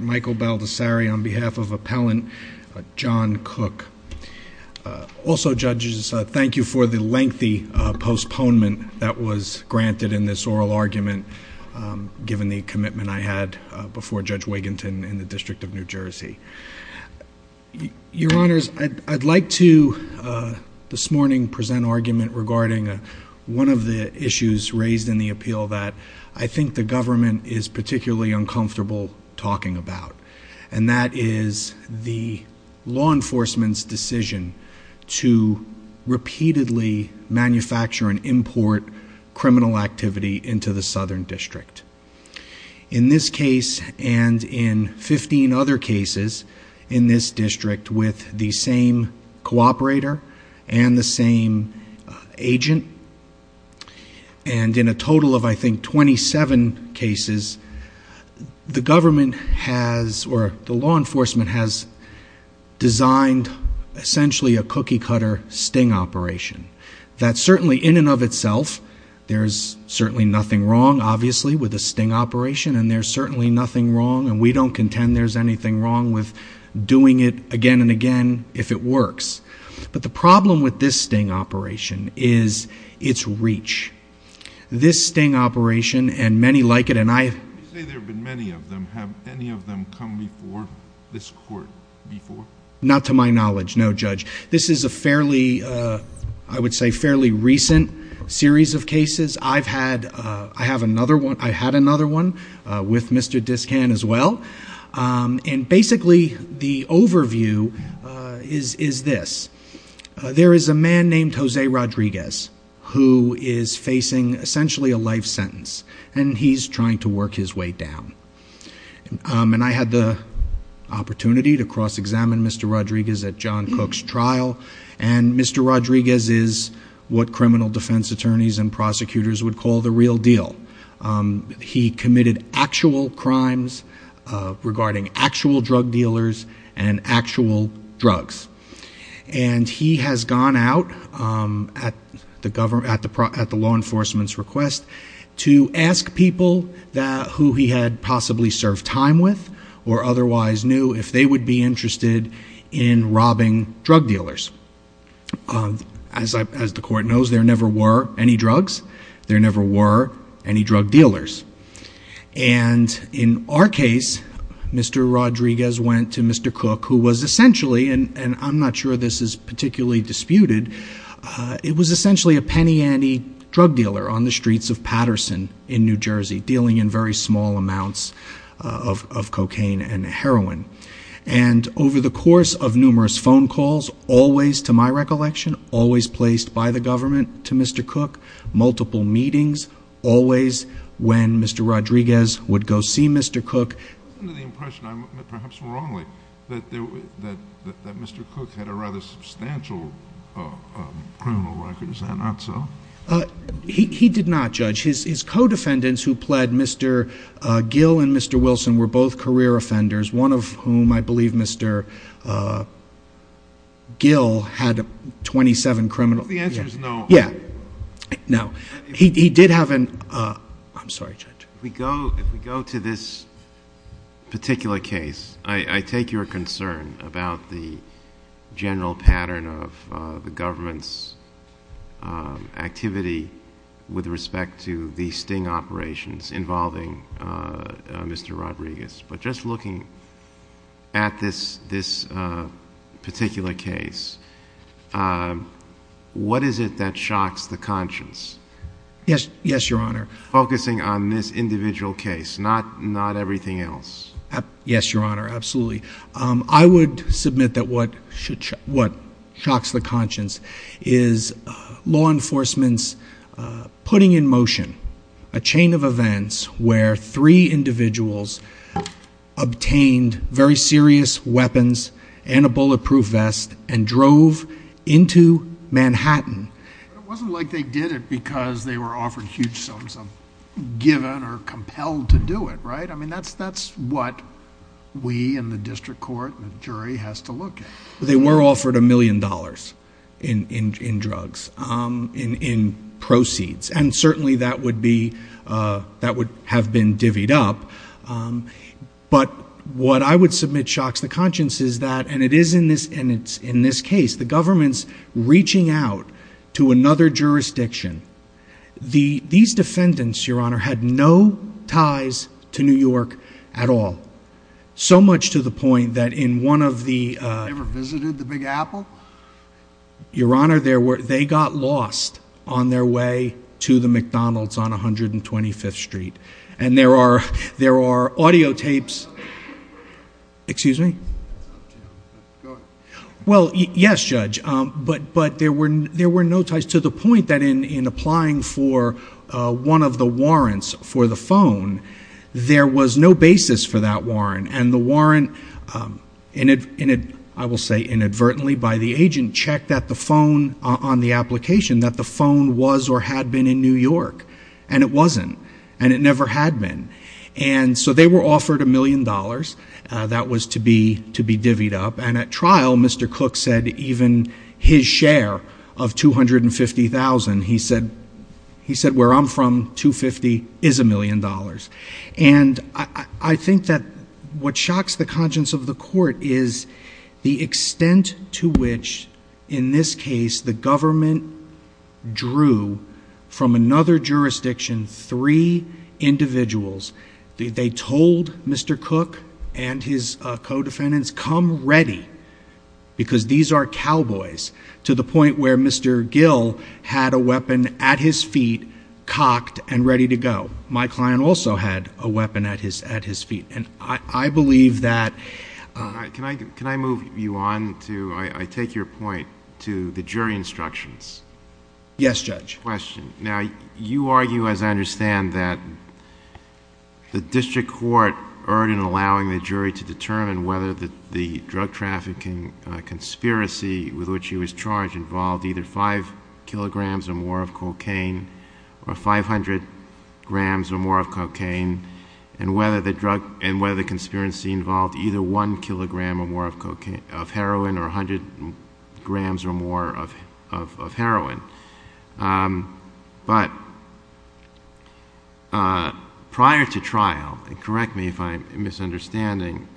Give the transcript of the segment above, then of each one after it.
Michael Baldessari on behalf of Appellant John Cook. Also, judges, thank you for the lengthy postponement that was granted in this oral argument given the commitment I had before Judge Wiginton in the District of New Jersey. Your honors, I'd like to this morning present an argument regarding one of the issues raised in the appeal that I think the government is particularly uncomfortable talking about, and that is the law enforcement's decision to repeatedly manufacture and import criminal activity into the Southern District. In this agent, and in a total of, I think, 27 cases, the government has, or the law enforcement has designed essentially a cookie-cutter sting operation. That certainly in and of itself, there's certainly nothing wrong, obviously, with a sting operation, and there's certainly nothing wrong, and we don't contend there's anything wrong with doing it again and again if it works. But the problem with this sting operation is its reach. This sting operation, and many like it, and I- You say there have been many of them. Have any of them come before this court before? Not to my knowledge, no, Judge. This is a fairly, I would say, fairly recent series of cases. I've had, I have another one, I had another one with Mr. Discan as well, and basically the overview is this. There is a man named Jose Rodriguez who is facing essentially a life sentence, and he's trying to work his way down. And I had the opportunity to cross examine Mr. Rodriguez at John Cook's trial, and Mr. Rodriguez is what criminal defense attorneys and prosecutors would call the real deal. He committed actual crimes regarding actual drug dealers and actual drugs. And he has gone out at the law enforcement's request to ask people who he had possibly served time with, or otherwise knew, if they would be interested in robbing drug dealers. As the court knows, there never were any drugs. There was, Mr. Rodriguez went to Mr. Cook, who was essentially, and I'm not sure this is particularly disputed, it was essentially a penny ante drug dealer on the streets of Patterson in New Jersey, dealing in very small amounts of cocaine and heroin. And over the course of numerous phone calls, always, to my recollection, always placed by the government to Mr. Cook, multiple meetings, always when Mr. Rodriguez would go see Mr. Cook. I have the impression, perhaps wrongly, that Mr. Cook had a rather substantial criminal record. Is that not so? He did not, Judge. His co-defendants who pled, Mr. Gill and Mr. Wilson, were both career offenders, one of whom, I believe Mr. Gill had 27 criminal... The answer is no. Yeah. No. He did have an... I'm sorry, Judge. If we go to this particular case, I take your concern about the general pattern of the government's activity with respect to the sting operations involving Mr. Rodriguez. But just looking at this particular case, what is it that shocks the conscience? Yes, Your Honor. Focusing on this individual case, not everything else. Yes, Your Honor. Absolutely. I would submit that what shocks the conscience is law enforcement's putting in motion a chain of events where three individuals obtained very serious weapons and a bulletproof vest and drove into Manhattan. It wasn't like they did it because they were offered huge sums of, given or compelled to do it, right? I mean, that's what we in the district court and the jury has to look at. They were offered a million dollars in drugs, in proceeds, and certainly that would be, that would have been divvied up. But what I would submit shocks the conscience is that, and it is in this case, the government's reaching out to another jurisdiction, these defendants, Your Honor, had no ties to New York at all. So much to the point that in one of the... You ever visited the Big Apple? Your Honor, they got lost on their way to the McDonald's on 125th Street. And there are audio tapes... That's up to you, go ahead. Well, yes, Judge. But there were no ties to the point that in applying for one of the warrants for the phone, there was no basis for that warrant. And the warrant, I will say inadvertently by the agent, checked that the phone on the application, that the phone was or had been in New York. And it wasn't. And it never had been. And so they were offered a million dollars. That was to be divvied up. And at trial, Mr. Cook said even his share of $250,000, he said, where I'm from, $250,000 is a million dollars. And I think that what shocks the conscience of the court is the extent to which in this case the government drew from another jurisdiction three individuals. They told Mr. Cook and his co-defendants, come ready, because these are cowboys, to the point where Mr. Gill had a weapon at his feet, cocked, and ready to go. My client also had a weapon at his feet. And I believe that... Can I move you on to... I take your point to the jury instructions. Yes, Judge. Question. Now, you argue, as I understand, that the district court erred in allowing the jury to determine whether the drug trafficking conspiracy with which he was charged involved either five kilograms or more of cocaine, or 500 grams or more of cocaine, and whether the conspiracy involved either one kilogram or more of heroin, or 100 grams or more of But prior to trial, and correct me if I'm misunderstanding,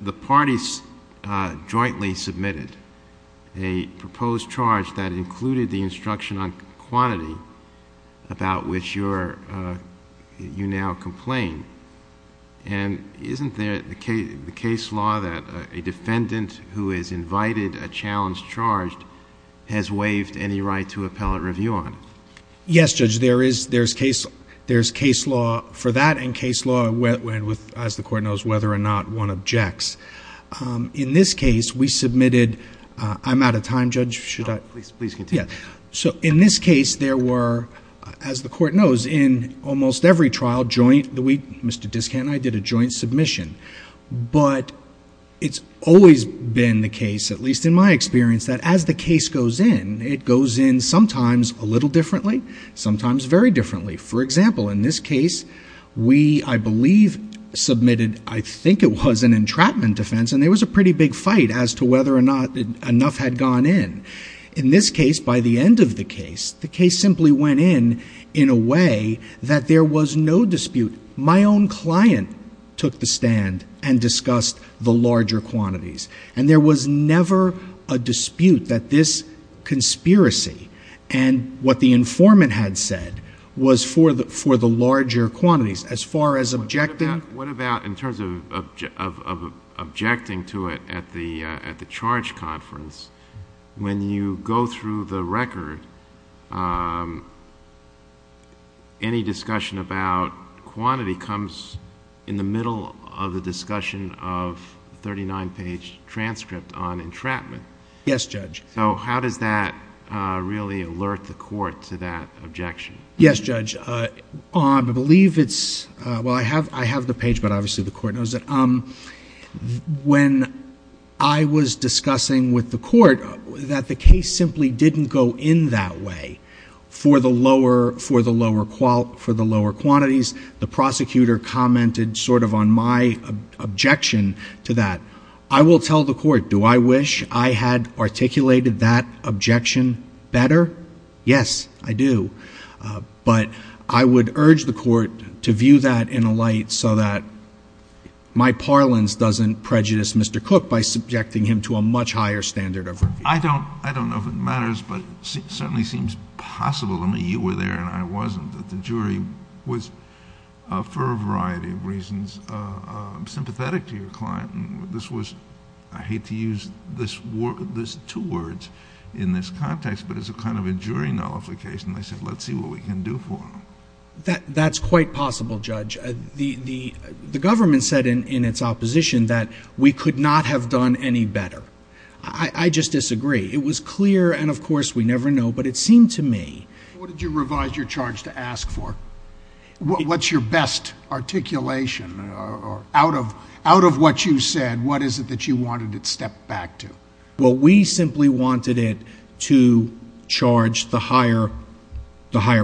the parties jointly submitted a proposed charge that included the instruction on quantity about which you now complain. And isn't there the case law that a defendant who is invited a challenge charged has waived any right to appellate review on? Yes, Judge. There's case law for that, and case law, as the court knows, whether or not one objects. In this case, we submitted... I'm out of time, Judge. Should I... Please continue. Yeah. So in this case, there were, as the court knows, in almost every trial, joint... Mr. Discant and I did a joint submission. But it's always been the case, at least in my experience, that as the case goes in, it goes in sometimes a little differently, sometimes very differently. For example, in this case, we, I believe, submitted, I think it was an entrapment defense, and there was a pretty big fight as to whether or not enough had gone in. In this case, by the end of the case, the case simply went in in a way that there was no dispute. My own client took the stand and discussed the larger quantities, and there was never a dispute that this conspiracy and what the informant had said was for the larger quantities. As far as objecting... What about, in terms of objecting to it at the charge conference, when you go through the record, any discussion about quantity comes in the middle of the discussion of 39-page transcript on entrapment. Yes, Judge. So how does that really alert the court to that objection? Yes, Judge. I believe it's... Well, I have the page, but obviously the court knows it. When I was discussing with the court that the case simply didn't go in that way for the lower quantities, the prosecutor commented sort of on my objection to that. I will tell the court, do I wish I had articulated that objection better? Yes, I do. But I would urge the court to view that in a light so that my parlance doesn't prejudice Mr. Cook by subjecting him to a much higher standard of review. I don't know if it matters, but it certainly seems possible... I mean, you were there and I wasn't, that the jury was, for a variety of reasons, sympathetic to your client. This was... I hate to use this two words in this context, but it's a kind of a jury nullification. They said, let's see what we can do for him. That's quite possible, Judge. The government said in its opposition that we could not have done any better. I just disagree. It was clear, and of course we never know, but it seemed to me... What did you revise your charge to ask for? What's your best articulation? Out of what you said, what is it that you wanted it stepped back to? Well, we simply wanted it to charge the higher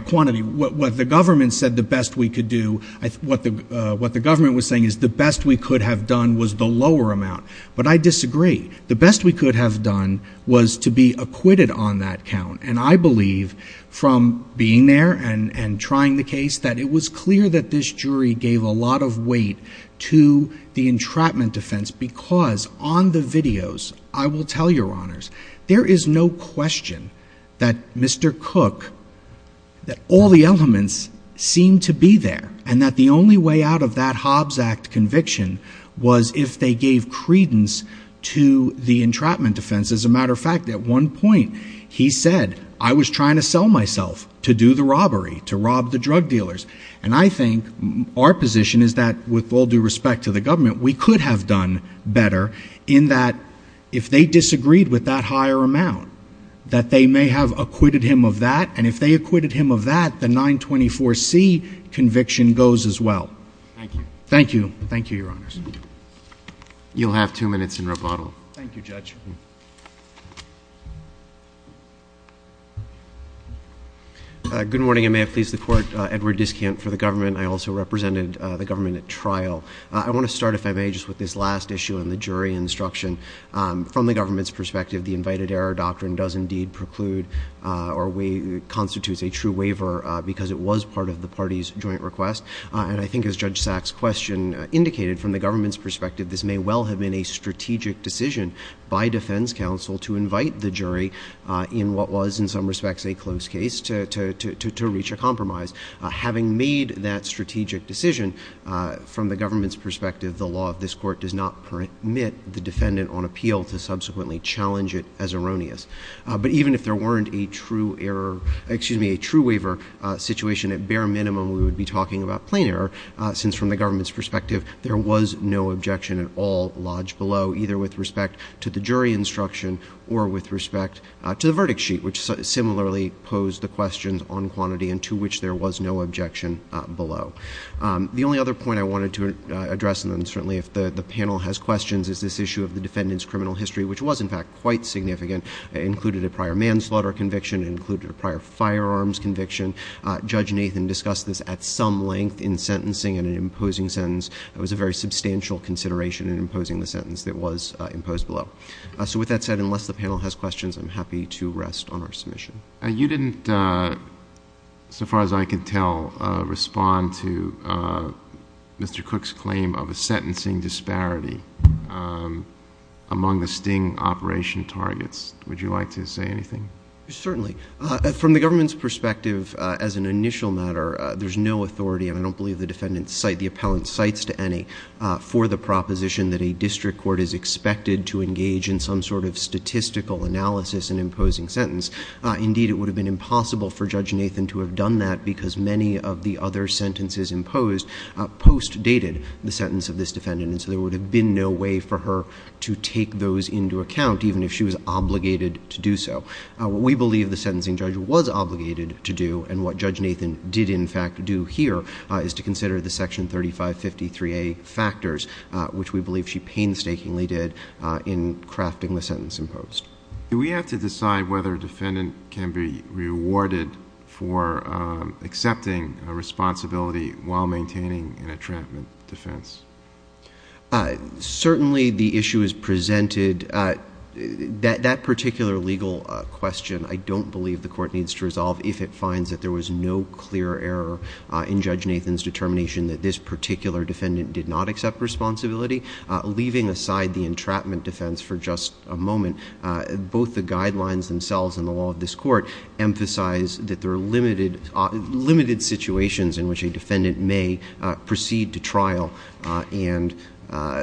quantity. What the government said the best we could do... What the government was saying is the best we could have done was the lower amount. But I disagree. The best we could have done was to be acquitted on that count. And I believe, from being there and trying the case, that it was clear that this jury gave a lot of weight to the entrapment defense, because on the videos, I will tell your honors, there is no question that Mr. Cook, that all the elements seem to be there, and that the only way out of that Hobbs Act conviction was if they gave credence to the entrapment defense. As a matter of fact, at one point he said, I was trying to sell myself to do the robbery, to rob the drug dealers. And I think our position is that, with all due respect to the government, we could have done better in that if they disagreed with that higher amount, that they may have acquitted him of that. And if they acquitted him of that, the 924C conviction goes as well. Thank you. Thank you. Thank you, your honors. You'll have two minutes in rebuttal. Thank you, Judge. Good morning, and may I please the court, Edward Diskant, for the government. I also represented the government at trial. I want to start, if I may, just with this last issue on the jury instruction. From the government's perspective, the invited error doctrine does indeed preclude, or constitutes a true waiver, because it was part of the party's joint request. And I think, as Judge Sachs' question indicated, from the government's perspective, this may well have been a strategic decision by defense counsel to invite the jury in what was, in some respects, a close case, to reach a compromise. Having made that strategic decision, from the government's perspective, the law of this court does not permit the defendant on appeal to subsequently challenge it as erroneous. But even if there weren't a true error, excuse me, a true waiver situation, at bare minimum we would be talking about plain error, since from the government's perspective, there was no objection at all lodged below, either with respect to the jury instruction, or with respect to the verdict sheet, which similarly posed the questions on quantity, and to which there was no objection below. The only other point I wanted to address, and then certainly if the panel has questions, is this issue of the defendant's criminal history, which was, in fact, quite significant. It included a prior manslaughter conviction, it included a prior firearms conviction. Judge Nathan discussed this at some length in sentencing, in an imposing sentence. It was a very substantial consideration in imposing the sentence that was imposed below. So with that said, unless the panel has questions, I'm happy to rest on our submission. You didn't, so far as I could tell, respond to Mr. Cook's claim of a sentencing disparity among the sting operation targets. Would you like to say anything? Certainly. From the government's perspective, as an initial matter, there's no authority, and I don't believe the defendant, the appellant, cites to any for the proposition that a district court is expected to engage in some sort of statistical analysis in imposing sentence. Indeed, it would have been impossible for Judge Nathan to have done that, because many of the other sentences imposed post-dated the sentence of this defendant, and so there would have been no way for her to take those into account, even if she was obligated to do so. We believe the sentencing judge was obligated to do, and what Judge Nathan did, in fact, do here, is to consider the Section 3553A factors, which we believe she painstakingly did in crafting the sentence imposed. Do we have to decide whether a defendant can be rewarded for accepting a responsibility while maintaining an entrapment defense? Certainly the issue is presented. That particular legal question, I don't believe the court needs to resolve if it finds that there was no clear error in Judge Nathan's determination that this particular defendant did not accept responsibility. Leaving aside the entrapment defense for just a moment, both the guidelines themselves and the law of this court emphasize that there are limited situations in which a defendant may proceed to trial and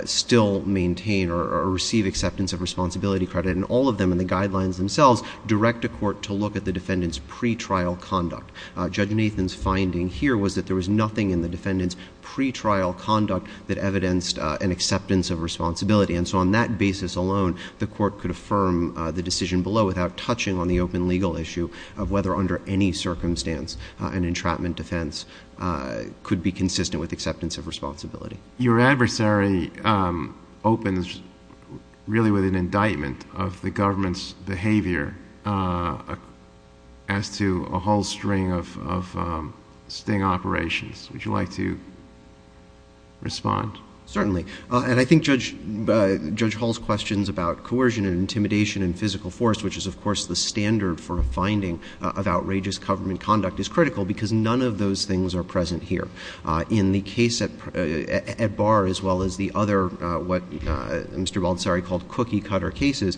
still maintain or receive acceptance of responsibility credit, and all of them in the guidelines themselves direct a court to look at the defendant's pre-trial conduct. Judge Nathan's finding here was that there was nothing in the defendant's pre-trial conduct that evidenced an acceptance of responsibility, and so on that basis alone, the court could affirm the decision below without touching on the open legal issue of whether, under any circumstance, an entrapment defense could be consistent with acceptance of responsibility. Your adversary opens really with an indictment of the government's behavior as to a whole string of sting operations. Would you like to respond? Certainly, and I think Judge Hall's questions about coercion and intimidation and physical force, which is of course the standard for a finding of outrageous government conduct, is critical because none of those things are present here. In the case at Barr, as well as the other, what Mr. Baldessari called cookie-cutter cases,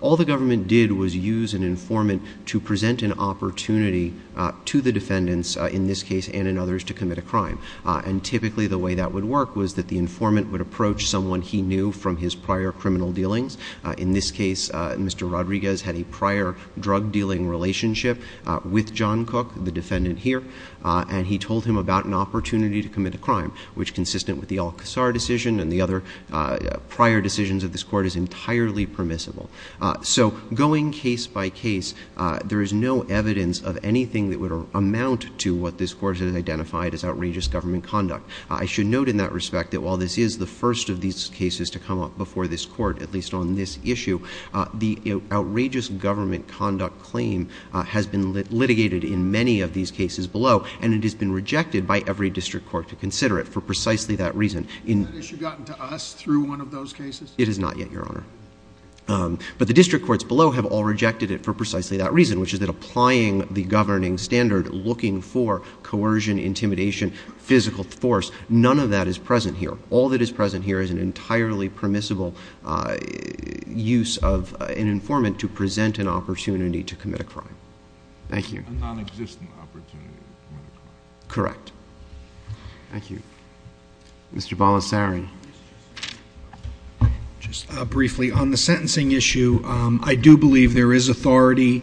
all the government did was use an informant to present an opportunity to the defendants, in this case and in others, to commit a crime. And typically the way that would work was that the informant would approach someone he knew from his prior criminal dealings. In this case, Mr. Rodriguez had a prior drug-dealing relationship with John Cook, the defendant here, and he told him about an opportunity to commit a crime, which, consistent with the Al-Qasr decision and the other prior decisions of this Court, is entirely permissible. So going case by case, there is no evidence of anything that would amount to what this Court has identified as outrageous government conduct. I should note in that respect that while this is the first of these cases to come up before this Court, at least on this issue, the outrageous government conduct claim has been litigated in many of these cases below, and it has been rejected by every district court to consider it for precisely that reason. Has that issue gotten to us through one of those cases? It has not yet, Your Honor. But the district courts below have all rejected it for precisely that reason, which is that applying the governing standard, looking for coercion, intimidation, physical force, none of that is present here. All that is present here is an entirely permissible use of an informant to present an opportunity to commit a crime. Thank you. A non-existent opportunity to commit a crime. Correct. Thank you. Mr. Balasarian. Just briefly. On the sentencing issue, I do believe there is authority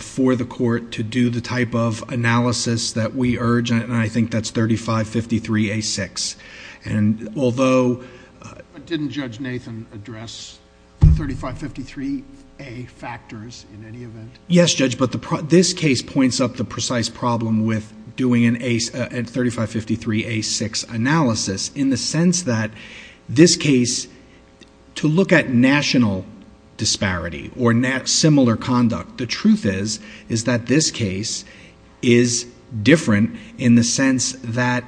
for the Court to do the type of analysis that we urge, and I think that's 3553A6. And although... But didn't Judge Nathan address the 3553A factors in any event? Yes, Judge. But this case points up the precise problem with doing a 3553A6 analysis in the sense that this case, to look at national disparity or similar conduct, the truth is that this case is different in the sense that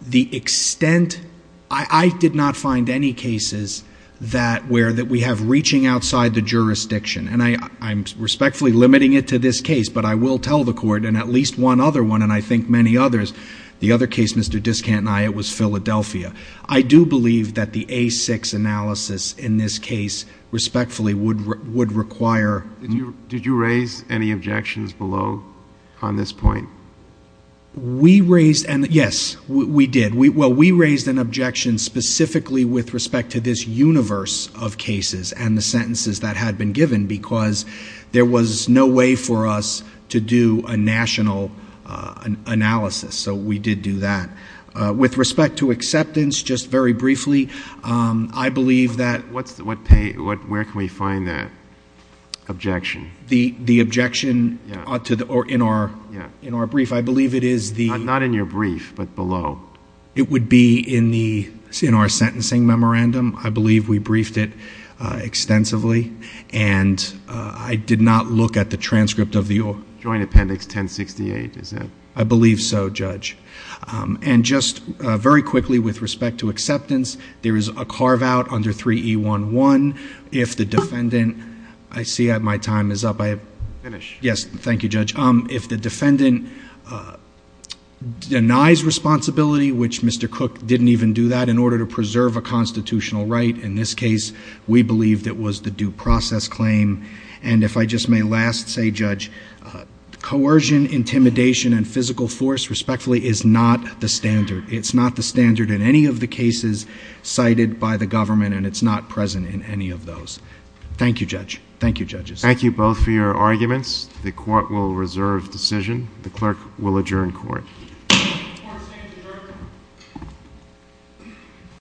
the extent... I did not find any cases where we have reached outside the jurisdiction. And I'm respectfully limiting it to this case, but I will tell the Court, and at least one other one, and I think many others, the other case, Mr. Diskant and I, it was Philadelphia. I do believe that the A6 analysis in this case respectfully would require... Did you raise any objections below on this point? We raised... and yes, we did. We raised an objection specifically with respect to this universe of cases and the sentences that had been given because there was no way for us to do a national analysis. So we did do that. With respect to acceptance, just very briefly, I believe that... Where can we find that objection? The objection in our brief. I believe it is the... It would be in our sentencing memorandum. I believe we briefed it extensively, and I did not look at the transcript of the... Joint Appendix 1068, is that... I believe so, Judge. And just very quickly with respect to acceptance, there is a carve-out under 3E11. If the defendant... I see my time is up. Finish. Yes. Thank you, Judge. If the defendant denies responsibility, which Mr. Cook didn't even do that in order to preserve a constitutional right, in this case, we believe it was the due process claim. And if I just may last say, Judge, coercion, intimidation, and physical force, respectfully, is not the standard. It's not the standard in any of the cases cited by the government, and it's not present in any of those. Thank you, Judge. Thank you, Judges. Thank you both for your arguments. The court will reserve decision. The clerk will adjourn court.